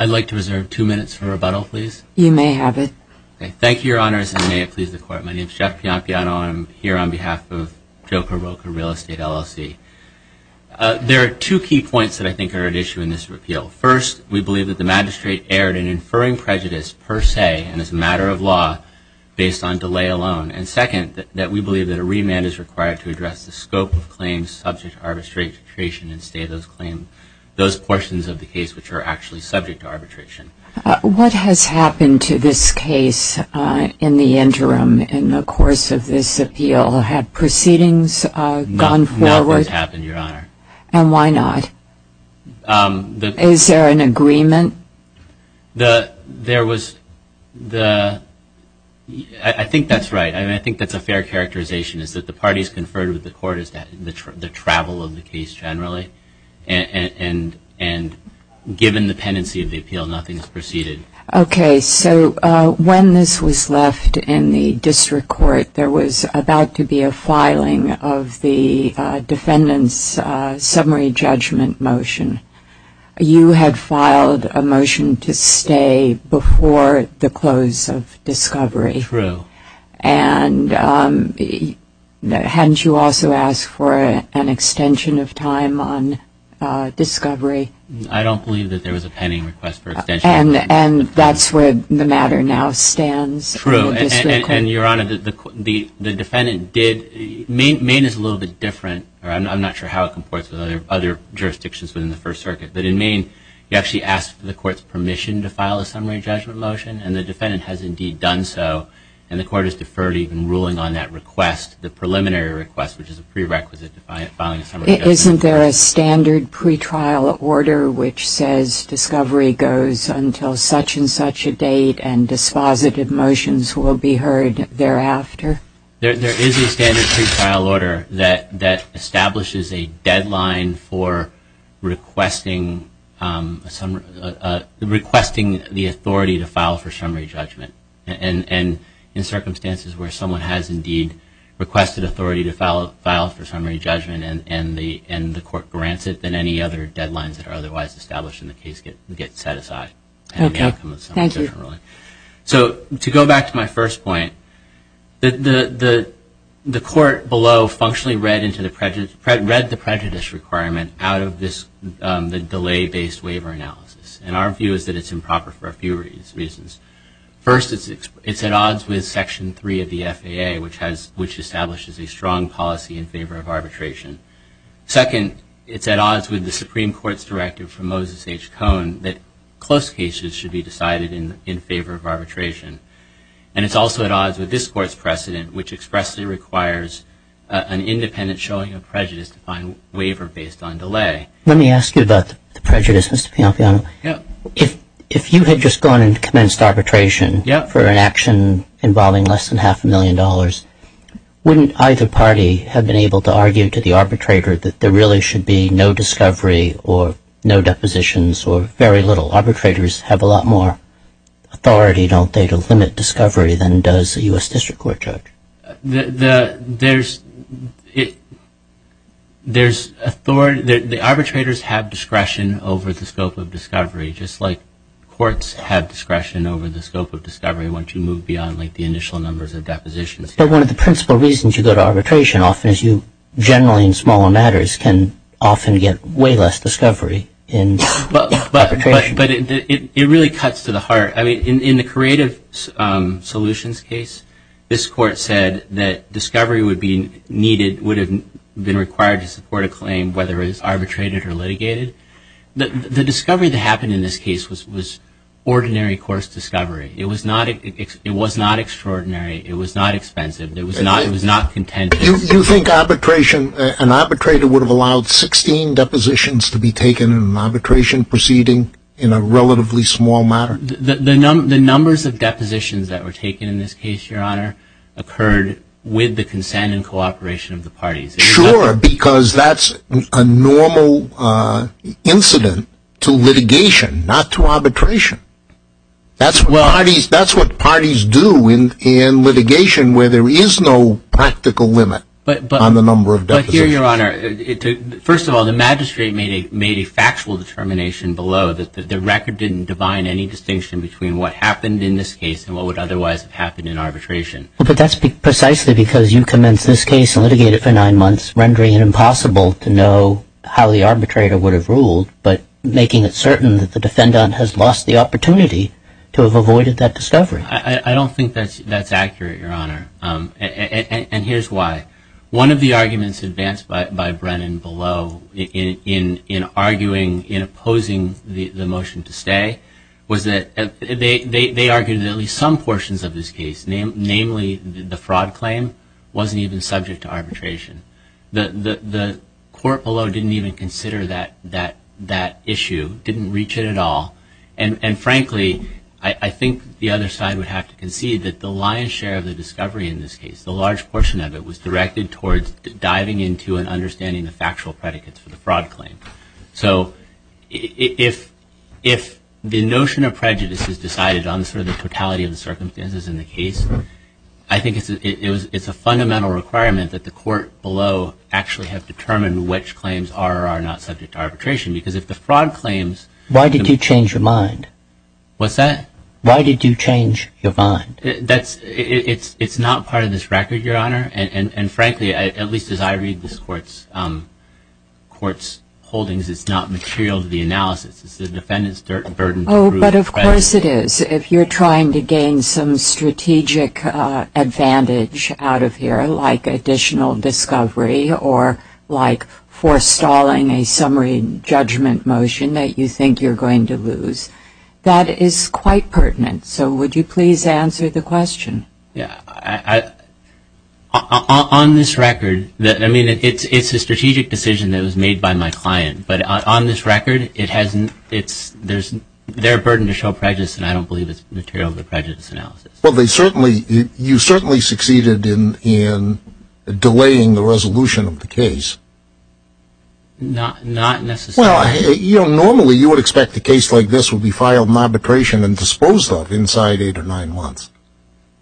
I'd like to reserve two minutes for rebuttal, please. You may have it. Thank you, Your Honors, and may it please the Court. My name is Jeff Piampiano, and I'm here on behalf of Joca-Roca Real Estate LLC. There are two key points that I think are at issue in this repeal. First, we believe that the magistrate erred in inferring prejudice per se and as a matter of law based on delay alone. And second, that we believe that a remand is required to address the scope of claims subject to arbitration and stay those claims, those portions of the case which are actually subject to arbitration. What has happened to this case in the interim, in the course of this appeal? Had proceedings gone forward? Nothing has happened, Your Honor. And why not? Is there an agreement? There was the... I think that's right. I mean, I think that's a fair characterization, is that the parties conferred with the Court as to the travel of the case generally, and given the pendency of the appeal, nothing has proceeded. Okay. So when this was left in the District Court, there was about to be a filing of the defendant's summary judgment motion. You had filed a motion to stay before the close of discovery. True. And hadn't you also asked for an extension of time on discovery? I don't believe that there was a pending request for extension. And that's where the matter now stands in the District Court. True. And Your Honor, the defendant did... Maine is a little bit different. I'm not sure how it comports with other jurisdictions within the First Circuit, but in Maine you actually ask for the Court's permission to file a summary judgment motion, and the defendant has indeed done so, and the Court has deferred even ruling on that request, the preliminary request, which is a prerequisite to filing a summary judgment motion. Isn't there a standard pretrial order which says discovery goes until such-and-such a date and dispositive motions will be heard thereafter? There is a standard pretrial order that establishes a deadline for requesting the authority to file a summary judgment, and in circumstances where someone has indeed requested authority to file a summary judgment and the Court grants it, then any other deadlines that are otherwise established in the case get set aside. Okay. Thank you. So, to go back to my first point, the Court below functionally read the prejudice requirement out of the delay-based waiver analysis, and our view is that it's improper for a few reasons. First, it's at odds with Section 3 of the FAA, which establishes a strong policy in favor of arbitration. Second, it's at odds with the Supreme Court's directive from Moses H. Cohn that close cases should be decided in favor of arbitration, and it's also at odds with this Court's precedent, which expressly requires an independent showing of prejudice to find waiver based on delay. Let me ask you about the prejudice, Mr. Pianfiano. If you had just gone and commenced arbitration for an action involving less than half a million dollars, wouldn't either party have been able to argue to the arbitrator that there really should be no discovery or no depositions or very little? Arbitrators have a lot more authority, don't they, to limit discovery than does a U.S. District Court judge? The arbitrators have discretion over the scope of discovery, just like courts have discretion over the scope of discovery once you move beyond the initial numbers of depositions. But one of the principal reasons you go to arbitration often is you, generally in smaller matters, can often get way less discovery in arbitration. But it really cuts to the heart. In the Creative Solutions case, this Court said that discovery would have been required to support a claim, whether it was arbitrated or litigated. The discovery that happened in this case was ordinary course discovery. It was not extraordinary. It was not expensive. It was not contentious. You think an arbitrator would have allowed 16 depositions to be taken in an arbitration proceeding in a relatively small matter? The numbers of depositions that were taken in this case, Your Honor, occurred with the consent and cooperation of the parties. Sure, because that's a normal incident to litigation, not to arbitration. That's what parties do in litigation, where there is no practical limit on the number of depositions. Here, Your Honor, first of all, the magistrate made a factual determination below that the record didn't divine any distinction between what happened in this case and what would otherwise have happened in arbitration. But that's precisely because you commenced this case and litigated for nine months, rendering it impossible to know how the arbitrator would have ruled, but making it certain that the defendant has lost the opportunity to have avoided that discovery. I don't think that's accurate, Your Honor. And here's why. One of the arguments advanced by Brennan below in opposing the motion to stay was that they argued that at least some portions of this case, namely the fraud claim, wasn't even subject to arbitration. The court below didn't even consider that issue, didn't reach it at all. And frankly, I think the other side would have to concede that the lion's share of the case, the large portion of it, was directed towards diving into and understanding the factual predicates for the fraud claim. So if the notion of prejudice is decided on sort of the totality of the circumstances in the case, I think it's a fundamental requirement that the court below actually have determined which claims are or are not subject to arbitration. Because if the fraud claims- Why did you change your mind? What's that? Why did you change your mind? It's not part of this record, Your Honor. And frankly, at least as I read this court's holdings, it's not material to the analysis. It's the defendant's burden- Oh, but of course it is. If you're trying to gain some strategic advantage out of here, like additional discovery or like forestalling a summary judgment motion that you think you're going to lose, that is quite pertinent. So would you please answer the question? On this record, I mean, it's a strategic decision that was made by my client. But on this record, there's their burden to show prejudice, and I don't believe it's material to prejudice analysis. Well, you certainly succeeded in delaying the resolution of the case. Not necessarily. Well, normally you would expect a case like this would be filed in arbitration and disposed of inside eight or nine months.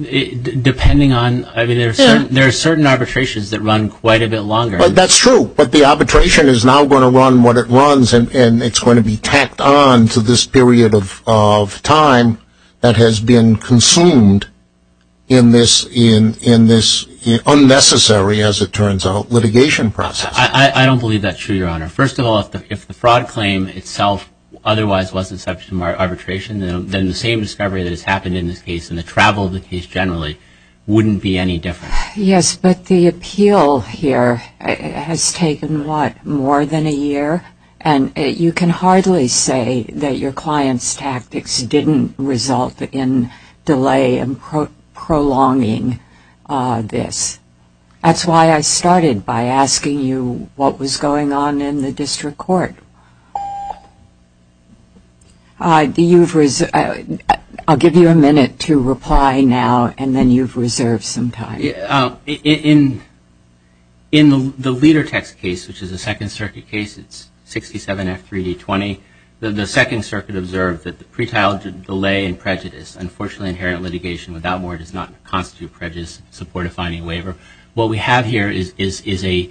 Depending on- There are certain arbitrations that run quite a bit longer. That's true. But the arbitration is now going to run what it runs, and it's going to be tacked on to this period of time that has been consumed in this unnecessary, as it turns out, litigation process. I don't believe that's true, Your Honor. First of all, if the fraud claim itself otherwise wasn't subject to arbitration, then the same discovery that has happened in this case and the travel of the case generally wouldn't be any different. Yes, but the appeal here has taken, what, more than a year? And you can hardly say that your client's tactics didn't result in delay and prolonging this. That's why I started by asking you what was going on in the district court. I'll give you a minute to reply now, and then you've reserved some time. In the Ledertex case, which is a Second Circuit case, it's 67F3D20, the Second Circuit observed that the pretrial delay in prejudice, unfortunately inherent in litigation without more, does not constitute prejudice in support of finding a waiver. What we have here is a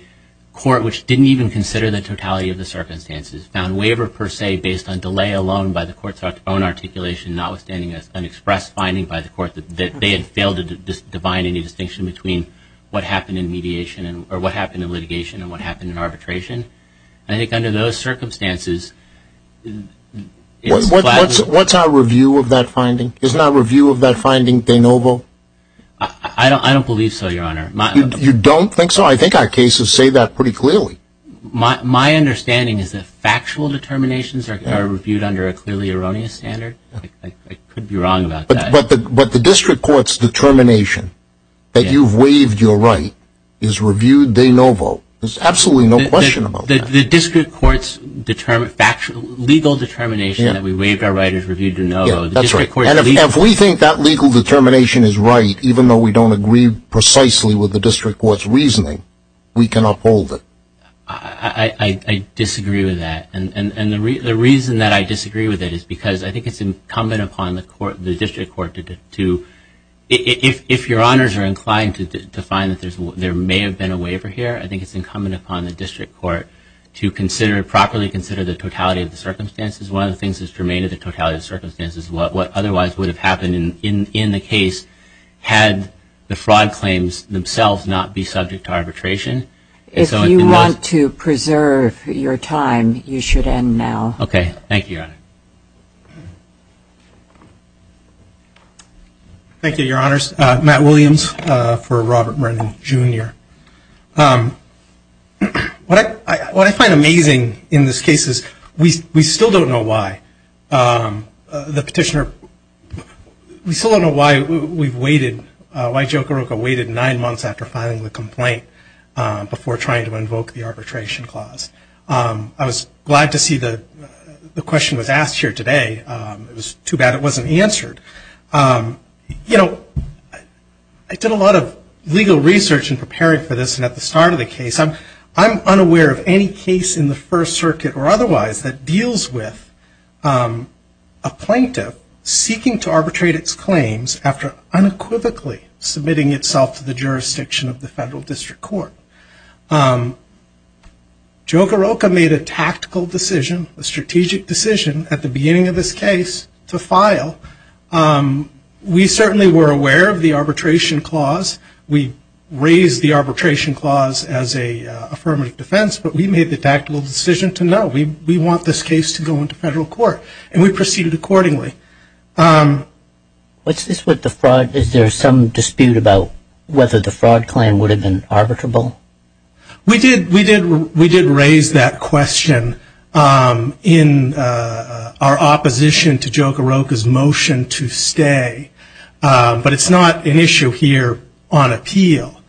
court which didn't even consider the totality of the circumstances, found waiver per se based on delay alone by the court's own articulation, notwithstanding an express finding by the court that they had failed to define any distinction between what happened in mediation or what happened in litigation and what happened in arbitration. I think under those circumstances, it's flat. What's our review of that finding? Isn't our review of that finding de novo? I don't believe so, Your Honor. You don't think so? I think our cases say that pretty clearly. My understanding is that factual determinations are reviewed under a clearly erroneous standard. I could be wrong about that. But the district court's determination that you've waived your right is reviewed de novo. There's absolutely no question about that. The district court's legal determination that we waived our right is reviewed de novo. That's right. And if we think that legal determination is right, even though we don't agree precisely with the district court's reasoning, we can uphold it. I disagree with that. And the reason that I disagree with it is because I think it's incumbent upon the district court to, if Your Honors are inclined to find that there may have been a waiver here, I think it's incumbent upon the district court to properly consider the totality of the circumstances. One of the things that's germane to the totality of the circumstances, what otherwise would have happened in the case had the fraud claims themselves not be subject to arbitration. If you want to preserve your time, you should end now. Okay. Thank you, Your Honor. Thank you, Your Honors. Matt Williams for Robert Brennan, Jr. What I find amazing in this case is we still don't know why the petitioner, we still don't know why we've waited, why Joe Caruca waited nine months after filing the complaint before trying to invoke the arbitration clause. I was glad to see the question was asked here today. It was too bad it wasn't answered. You know, I did a lot of legal research in preparing for this, and at the start of the case, I'm unaware of any case in the First Circuit or otherwise that deals with a plaintiff seeking to arbitrate its claims after unequivocally submitting itself to the jurisdiction of the federal district court. Joe Caruca made a tactical decision, a strategic decision at the beginning of this case to file. We certainly were aware of the arbitration clause. We raised the arbitration clause as an affirmative defense, but we made the tactical decision to no. We want this case to go into federal court, and we proceeded accordingly. What's this with the fraud? Is there some dispute about whether the fraud claim would have been arbitrable? We did raise that question in our opposition to Joe Caruca's motion to stay, but it's not an issue here on appeal.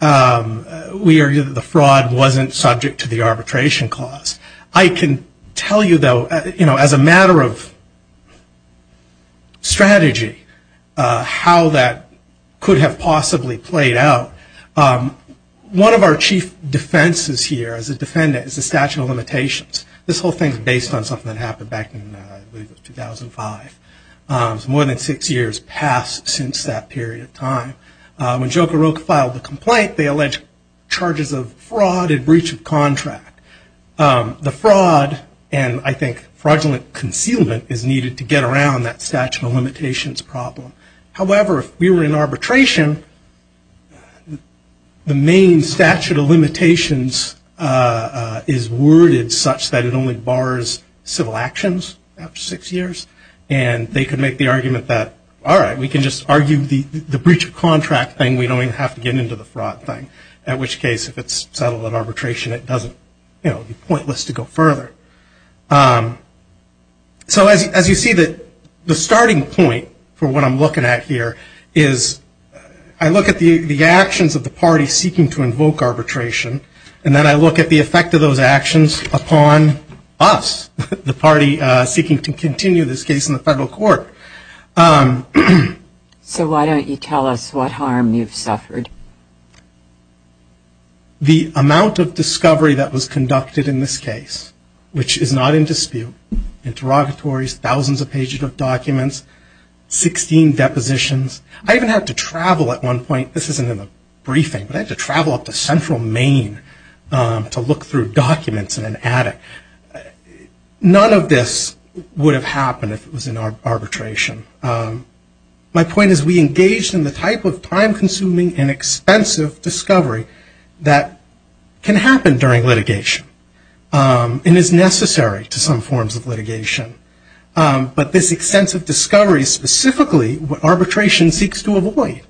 We argue that the fraud wasn't subject to the arbitration clause. I can tell you, though, as a matter of strategy, how that could have possibly played out. One of our chief defenses here as a defendant is the statute of limitations. This whole thing is based on something that happened back in 2005. It's more than six years past since that period of time. When Joe Caruca filed the complaint, they alleged charges of fraud and breach of contract. The fraud and, I think, fraudulent concealment is needed to get around that statute of limitations problem. However, if we were in arbitration, the main statute of limitations is worded such that it only bars civil actions after six years. And they could make the argument that, all right, we can just argue the breach of contract thing. We don't even have to get into the fraud thing, at which case, if it's settled in arbitration, it doesn't be pointless to go further. So as you see, the starting point for what I'm looking at here is I look at the actions of the party seeking to invoke arbitration, and then I look at the effect of those actions upon us, the party seeking to continue this case in the federal court. So why don't you tell us what harm you've suffered? The amount of discovery that was conducted in this case, which is not in dispute, interrogatories, thousands of pages of documents, 16 depositions. I even had to travel at one point. This isn't in the briefing, but I had to travel up to central Maine to look through documents in an attic. None of this would have happened if it was in arbitration. My point is we engaged in the type of time-consuming and expensive discovery that can happen during litigation and is necessary to some forms of litigation. But this extensive discovery specifically, arbitration seeks to avoid.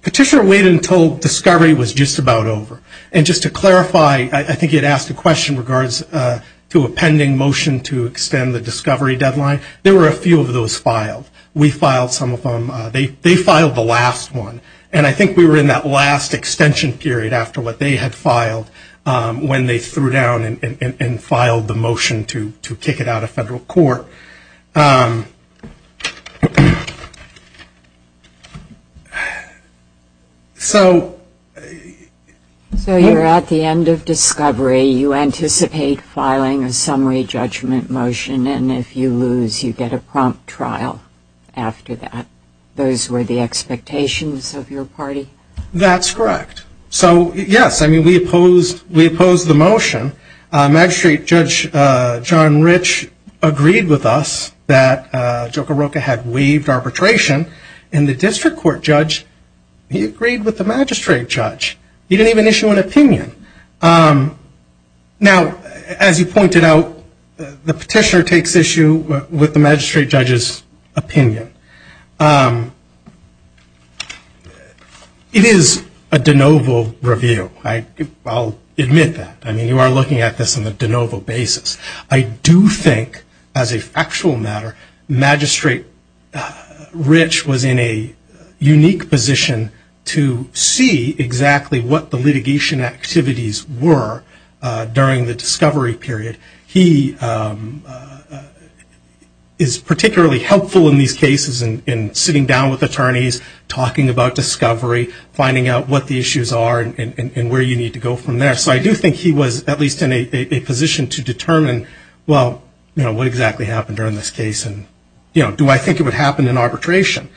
Petitioner waited until discovery was just about over. And just to clarify, I think you had asked a question in regards to a pending motion to extend the discovery deadline. There were a few of those filed. We filed some of them. They filed the last one, and I think we were in that last extension period after what they had filed when they threw down and filed the motion to kick it out of federal court. So... So you're at the end of discovery. You anticipate filing a summary judgment motion, and if you lose, you get a prompt trial after that. Those were the expectations of your party? That's correct. So, yes, I mean, we opposed the motion. Magistrate Judge John Rich agreed with us that Joka Roka had waived arbitration. And the district court judge, he agreed with the magistrate judge. He didn't even issue an opinion. Now, as you pointed out, the petitioner takes issue with the magistrate judge's opinion. It is a de novo review. I'll admit that. I mean, you are looking at this on a de novo basis. I do think, as a factual matter, Magistrate Rich was in a unique position to see exactly what the litigation activities were during the discovery period. He is particularly helpful in these cases in sitting down with attorneys, talking about discovery, finding out what the issues are and where you need to go from there. So I do think he was at least in a position to determine, well, you know, what exactly happened during this case and, you know, do I think it would happen in arbitration?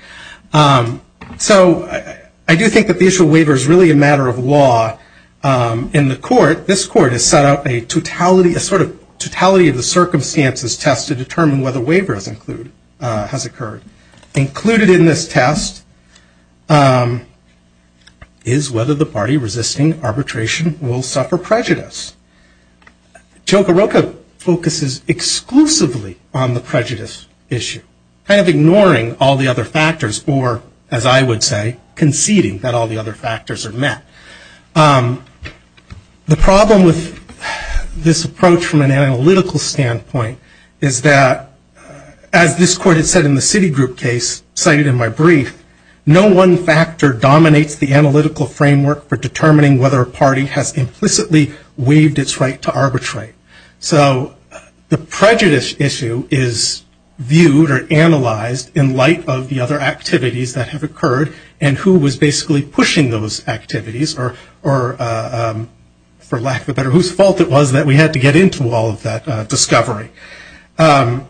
So I do think that the issue of waiver is really a matter of law in the court. This court has set up a totality, a sort of totality of the circumstances test to determine whether waiver has occurred. Included in this test is whether the party resisting arbitration will suffer prejudice. Choka Roka focuses exclusively on the prejudice issue, kind of ignoring all the other factors or, as I would say, conceding that all the other factors are met. The problem with this approach from an analytical standpoint is that, as this court has said in the Citigroup case, cited in my brief, no one factor dominates the analytical framework for determining whether a party has implicitly waived its right to arbitrate. So the prejudice issue is viewed or analyzed in light of the other activities that have occurred and who was basically pushing those activities or, for lack of a better, whose fault it was that we had to get into all of that discovery. The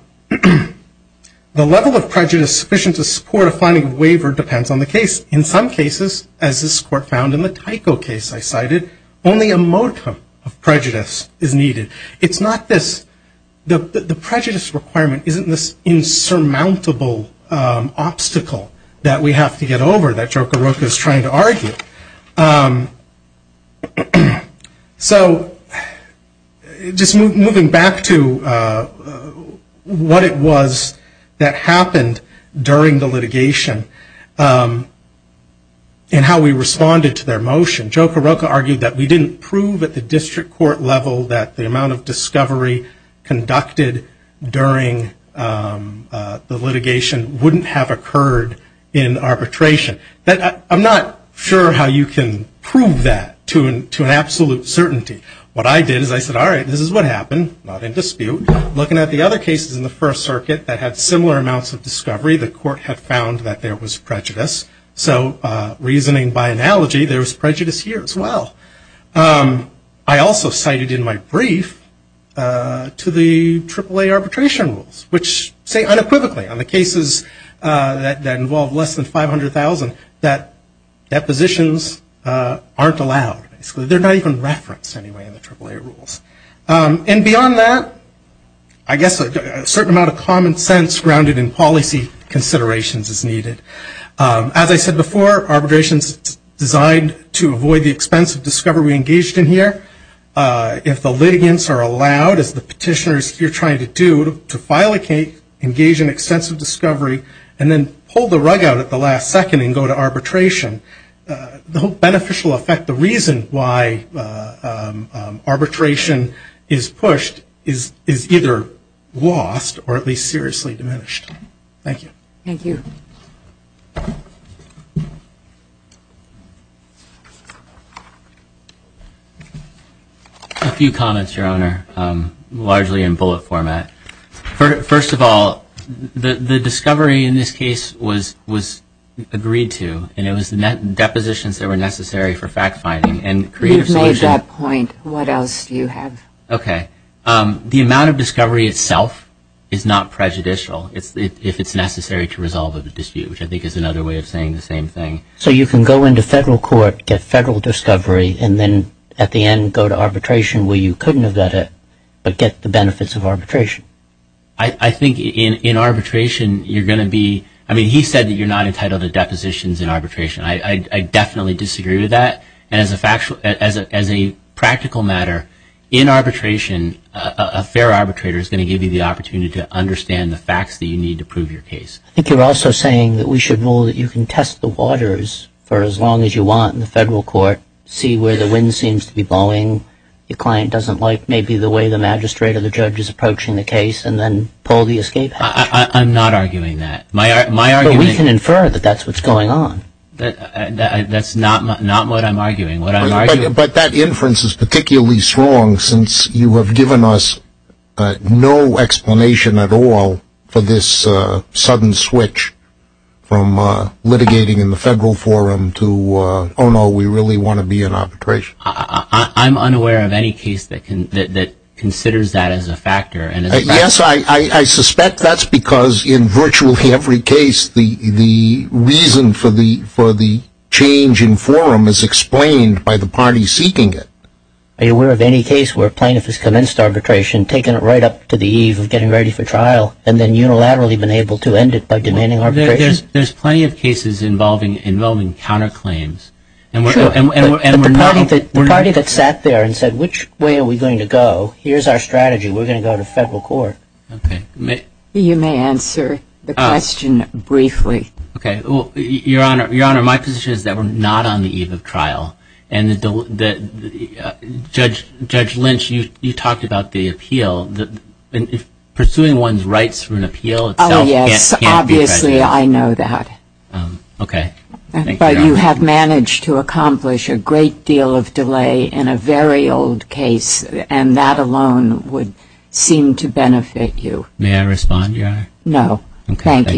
level of prejudice sufficient to support a finding of waiver depends on the case. In some cases, as this court found in the Tyco case I cited, only a modicum of prejudice is needed. It's not this, the prejudice requirement isn't this insurmountable obstacle that we have to get over that Choka Roka is trying to argue. So just moving back to what it was that happened during the litigation and how we responded to their motion, Choka Roka argued that we didn't prove at the district court level that the amount of discovery conducted during the litigation wouldn't have occurred in arbitration. I'm not sure how you can prove that to an absolute certainty. What I did is I said, all right, this is what happened, not in dispute. Looking at the other cases in the First Circuit that had similar amounts of discovery, the court had found that there was prejudice. So reasoning by analogy, there was prejudice here as well. I also cited in my brief to the AAA arbitration rules which say unequivocally on the cases that involve less than 500,000 that depositions aren't allowed. They're not even referenced anyway in the AAA rules. And beyond that, I guess a certain amount of common sense grounded in policy considerations is needed. As I said before, arbitration is designed to avoid the expense of discovery engaged in here. If the litigants are allowed, as the petitioners here are trying to do, to file a case, engage in extensive discovery, and then pull the rug out at the last second and go to arbitration, the whole beneficial effect, the reason why arbitration is pushed is either lost or at least seriously diminished. Thank you. Thank you. A few comments, Your Honor, largely in bullet format. First of all, the discovery in this case was agreed to, and it was depositions that were necessary for fact-finding. You've made that point. What else do you have? Okay. The amount of discovery itself is not prejudicial if it's necessary to resolve a dispute, which I think is another way of saying the same thing. So you can go into federal court, get federal discovery, and then at the end go to arbitration where you couldn't have done it but get the benefits of arbitration? I think in arbitration you're going to be – I mean, he said that you're not entitled to depositions in arbitration. I definitely disagree with that. And as a practical matter, in arbitration, a fair arbitrator is going to give you the opportunity to understand the facts that you need to prove your case. I think you're also saying that we should rule that you can test the waters for as long as you want in the federal court, see where the wind seems to be blowing, your client doesn't like maybe the way the magistrate or the judge is approaching the case, and then pull the escape hatch. I'm not arguing that. But we can infer that that's what's going on. That's not what I'm arguing. But that inference is particularly strong since you have given us no explanation at all for this sudden switch from litigating in the federal forum to, oh no, we really want to be in arbitration. I'm unaware of any case that considers that as a factor. Yes, I suspect that's because in virtually every case, the reason for the change in forum is explained by the party seeking it. Are you aware of any case where a plaintiff has commenced arbitration, taken it right up to the eve of getting ready for trial, and then unilaterally been able to end it by demanding arbitration? There's plenty of cases involving counterclaims. Sure, but the party that sat there and said, which way are we going to go, here's our strategy, we're going to go to federal court. Okay. You may answer the question briefly. Okay. Your Honor, my position is that we're not on the eve of trial. And Judge Lynch, you talked about the appeal. Pursuing one's rights from an appeal itself can't be a precedent. Oh, yes. Obviously, I know that. Okay. But you have managed to accomplish a great deal of delay in a very old case, and that alone would seem to benefit you. May I respond, Your Honor? No. Thank you.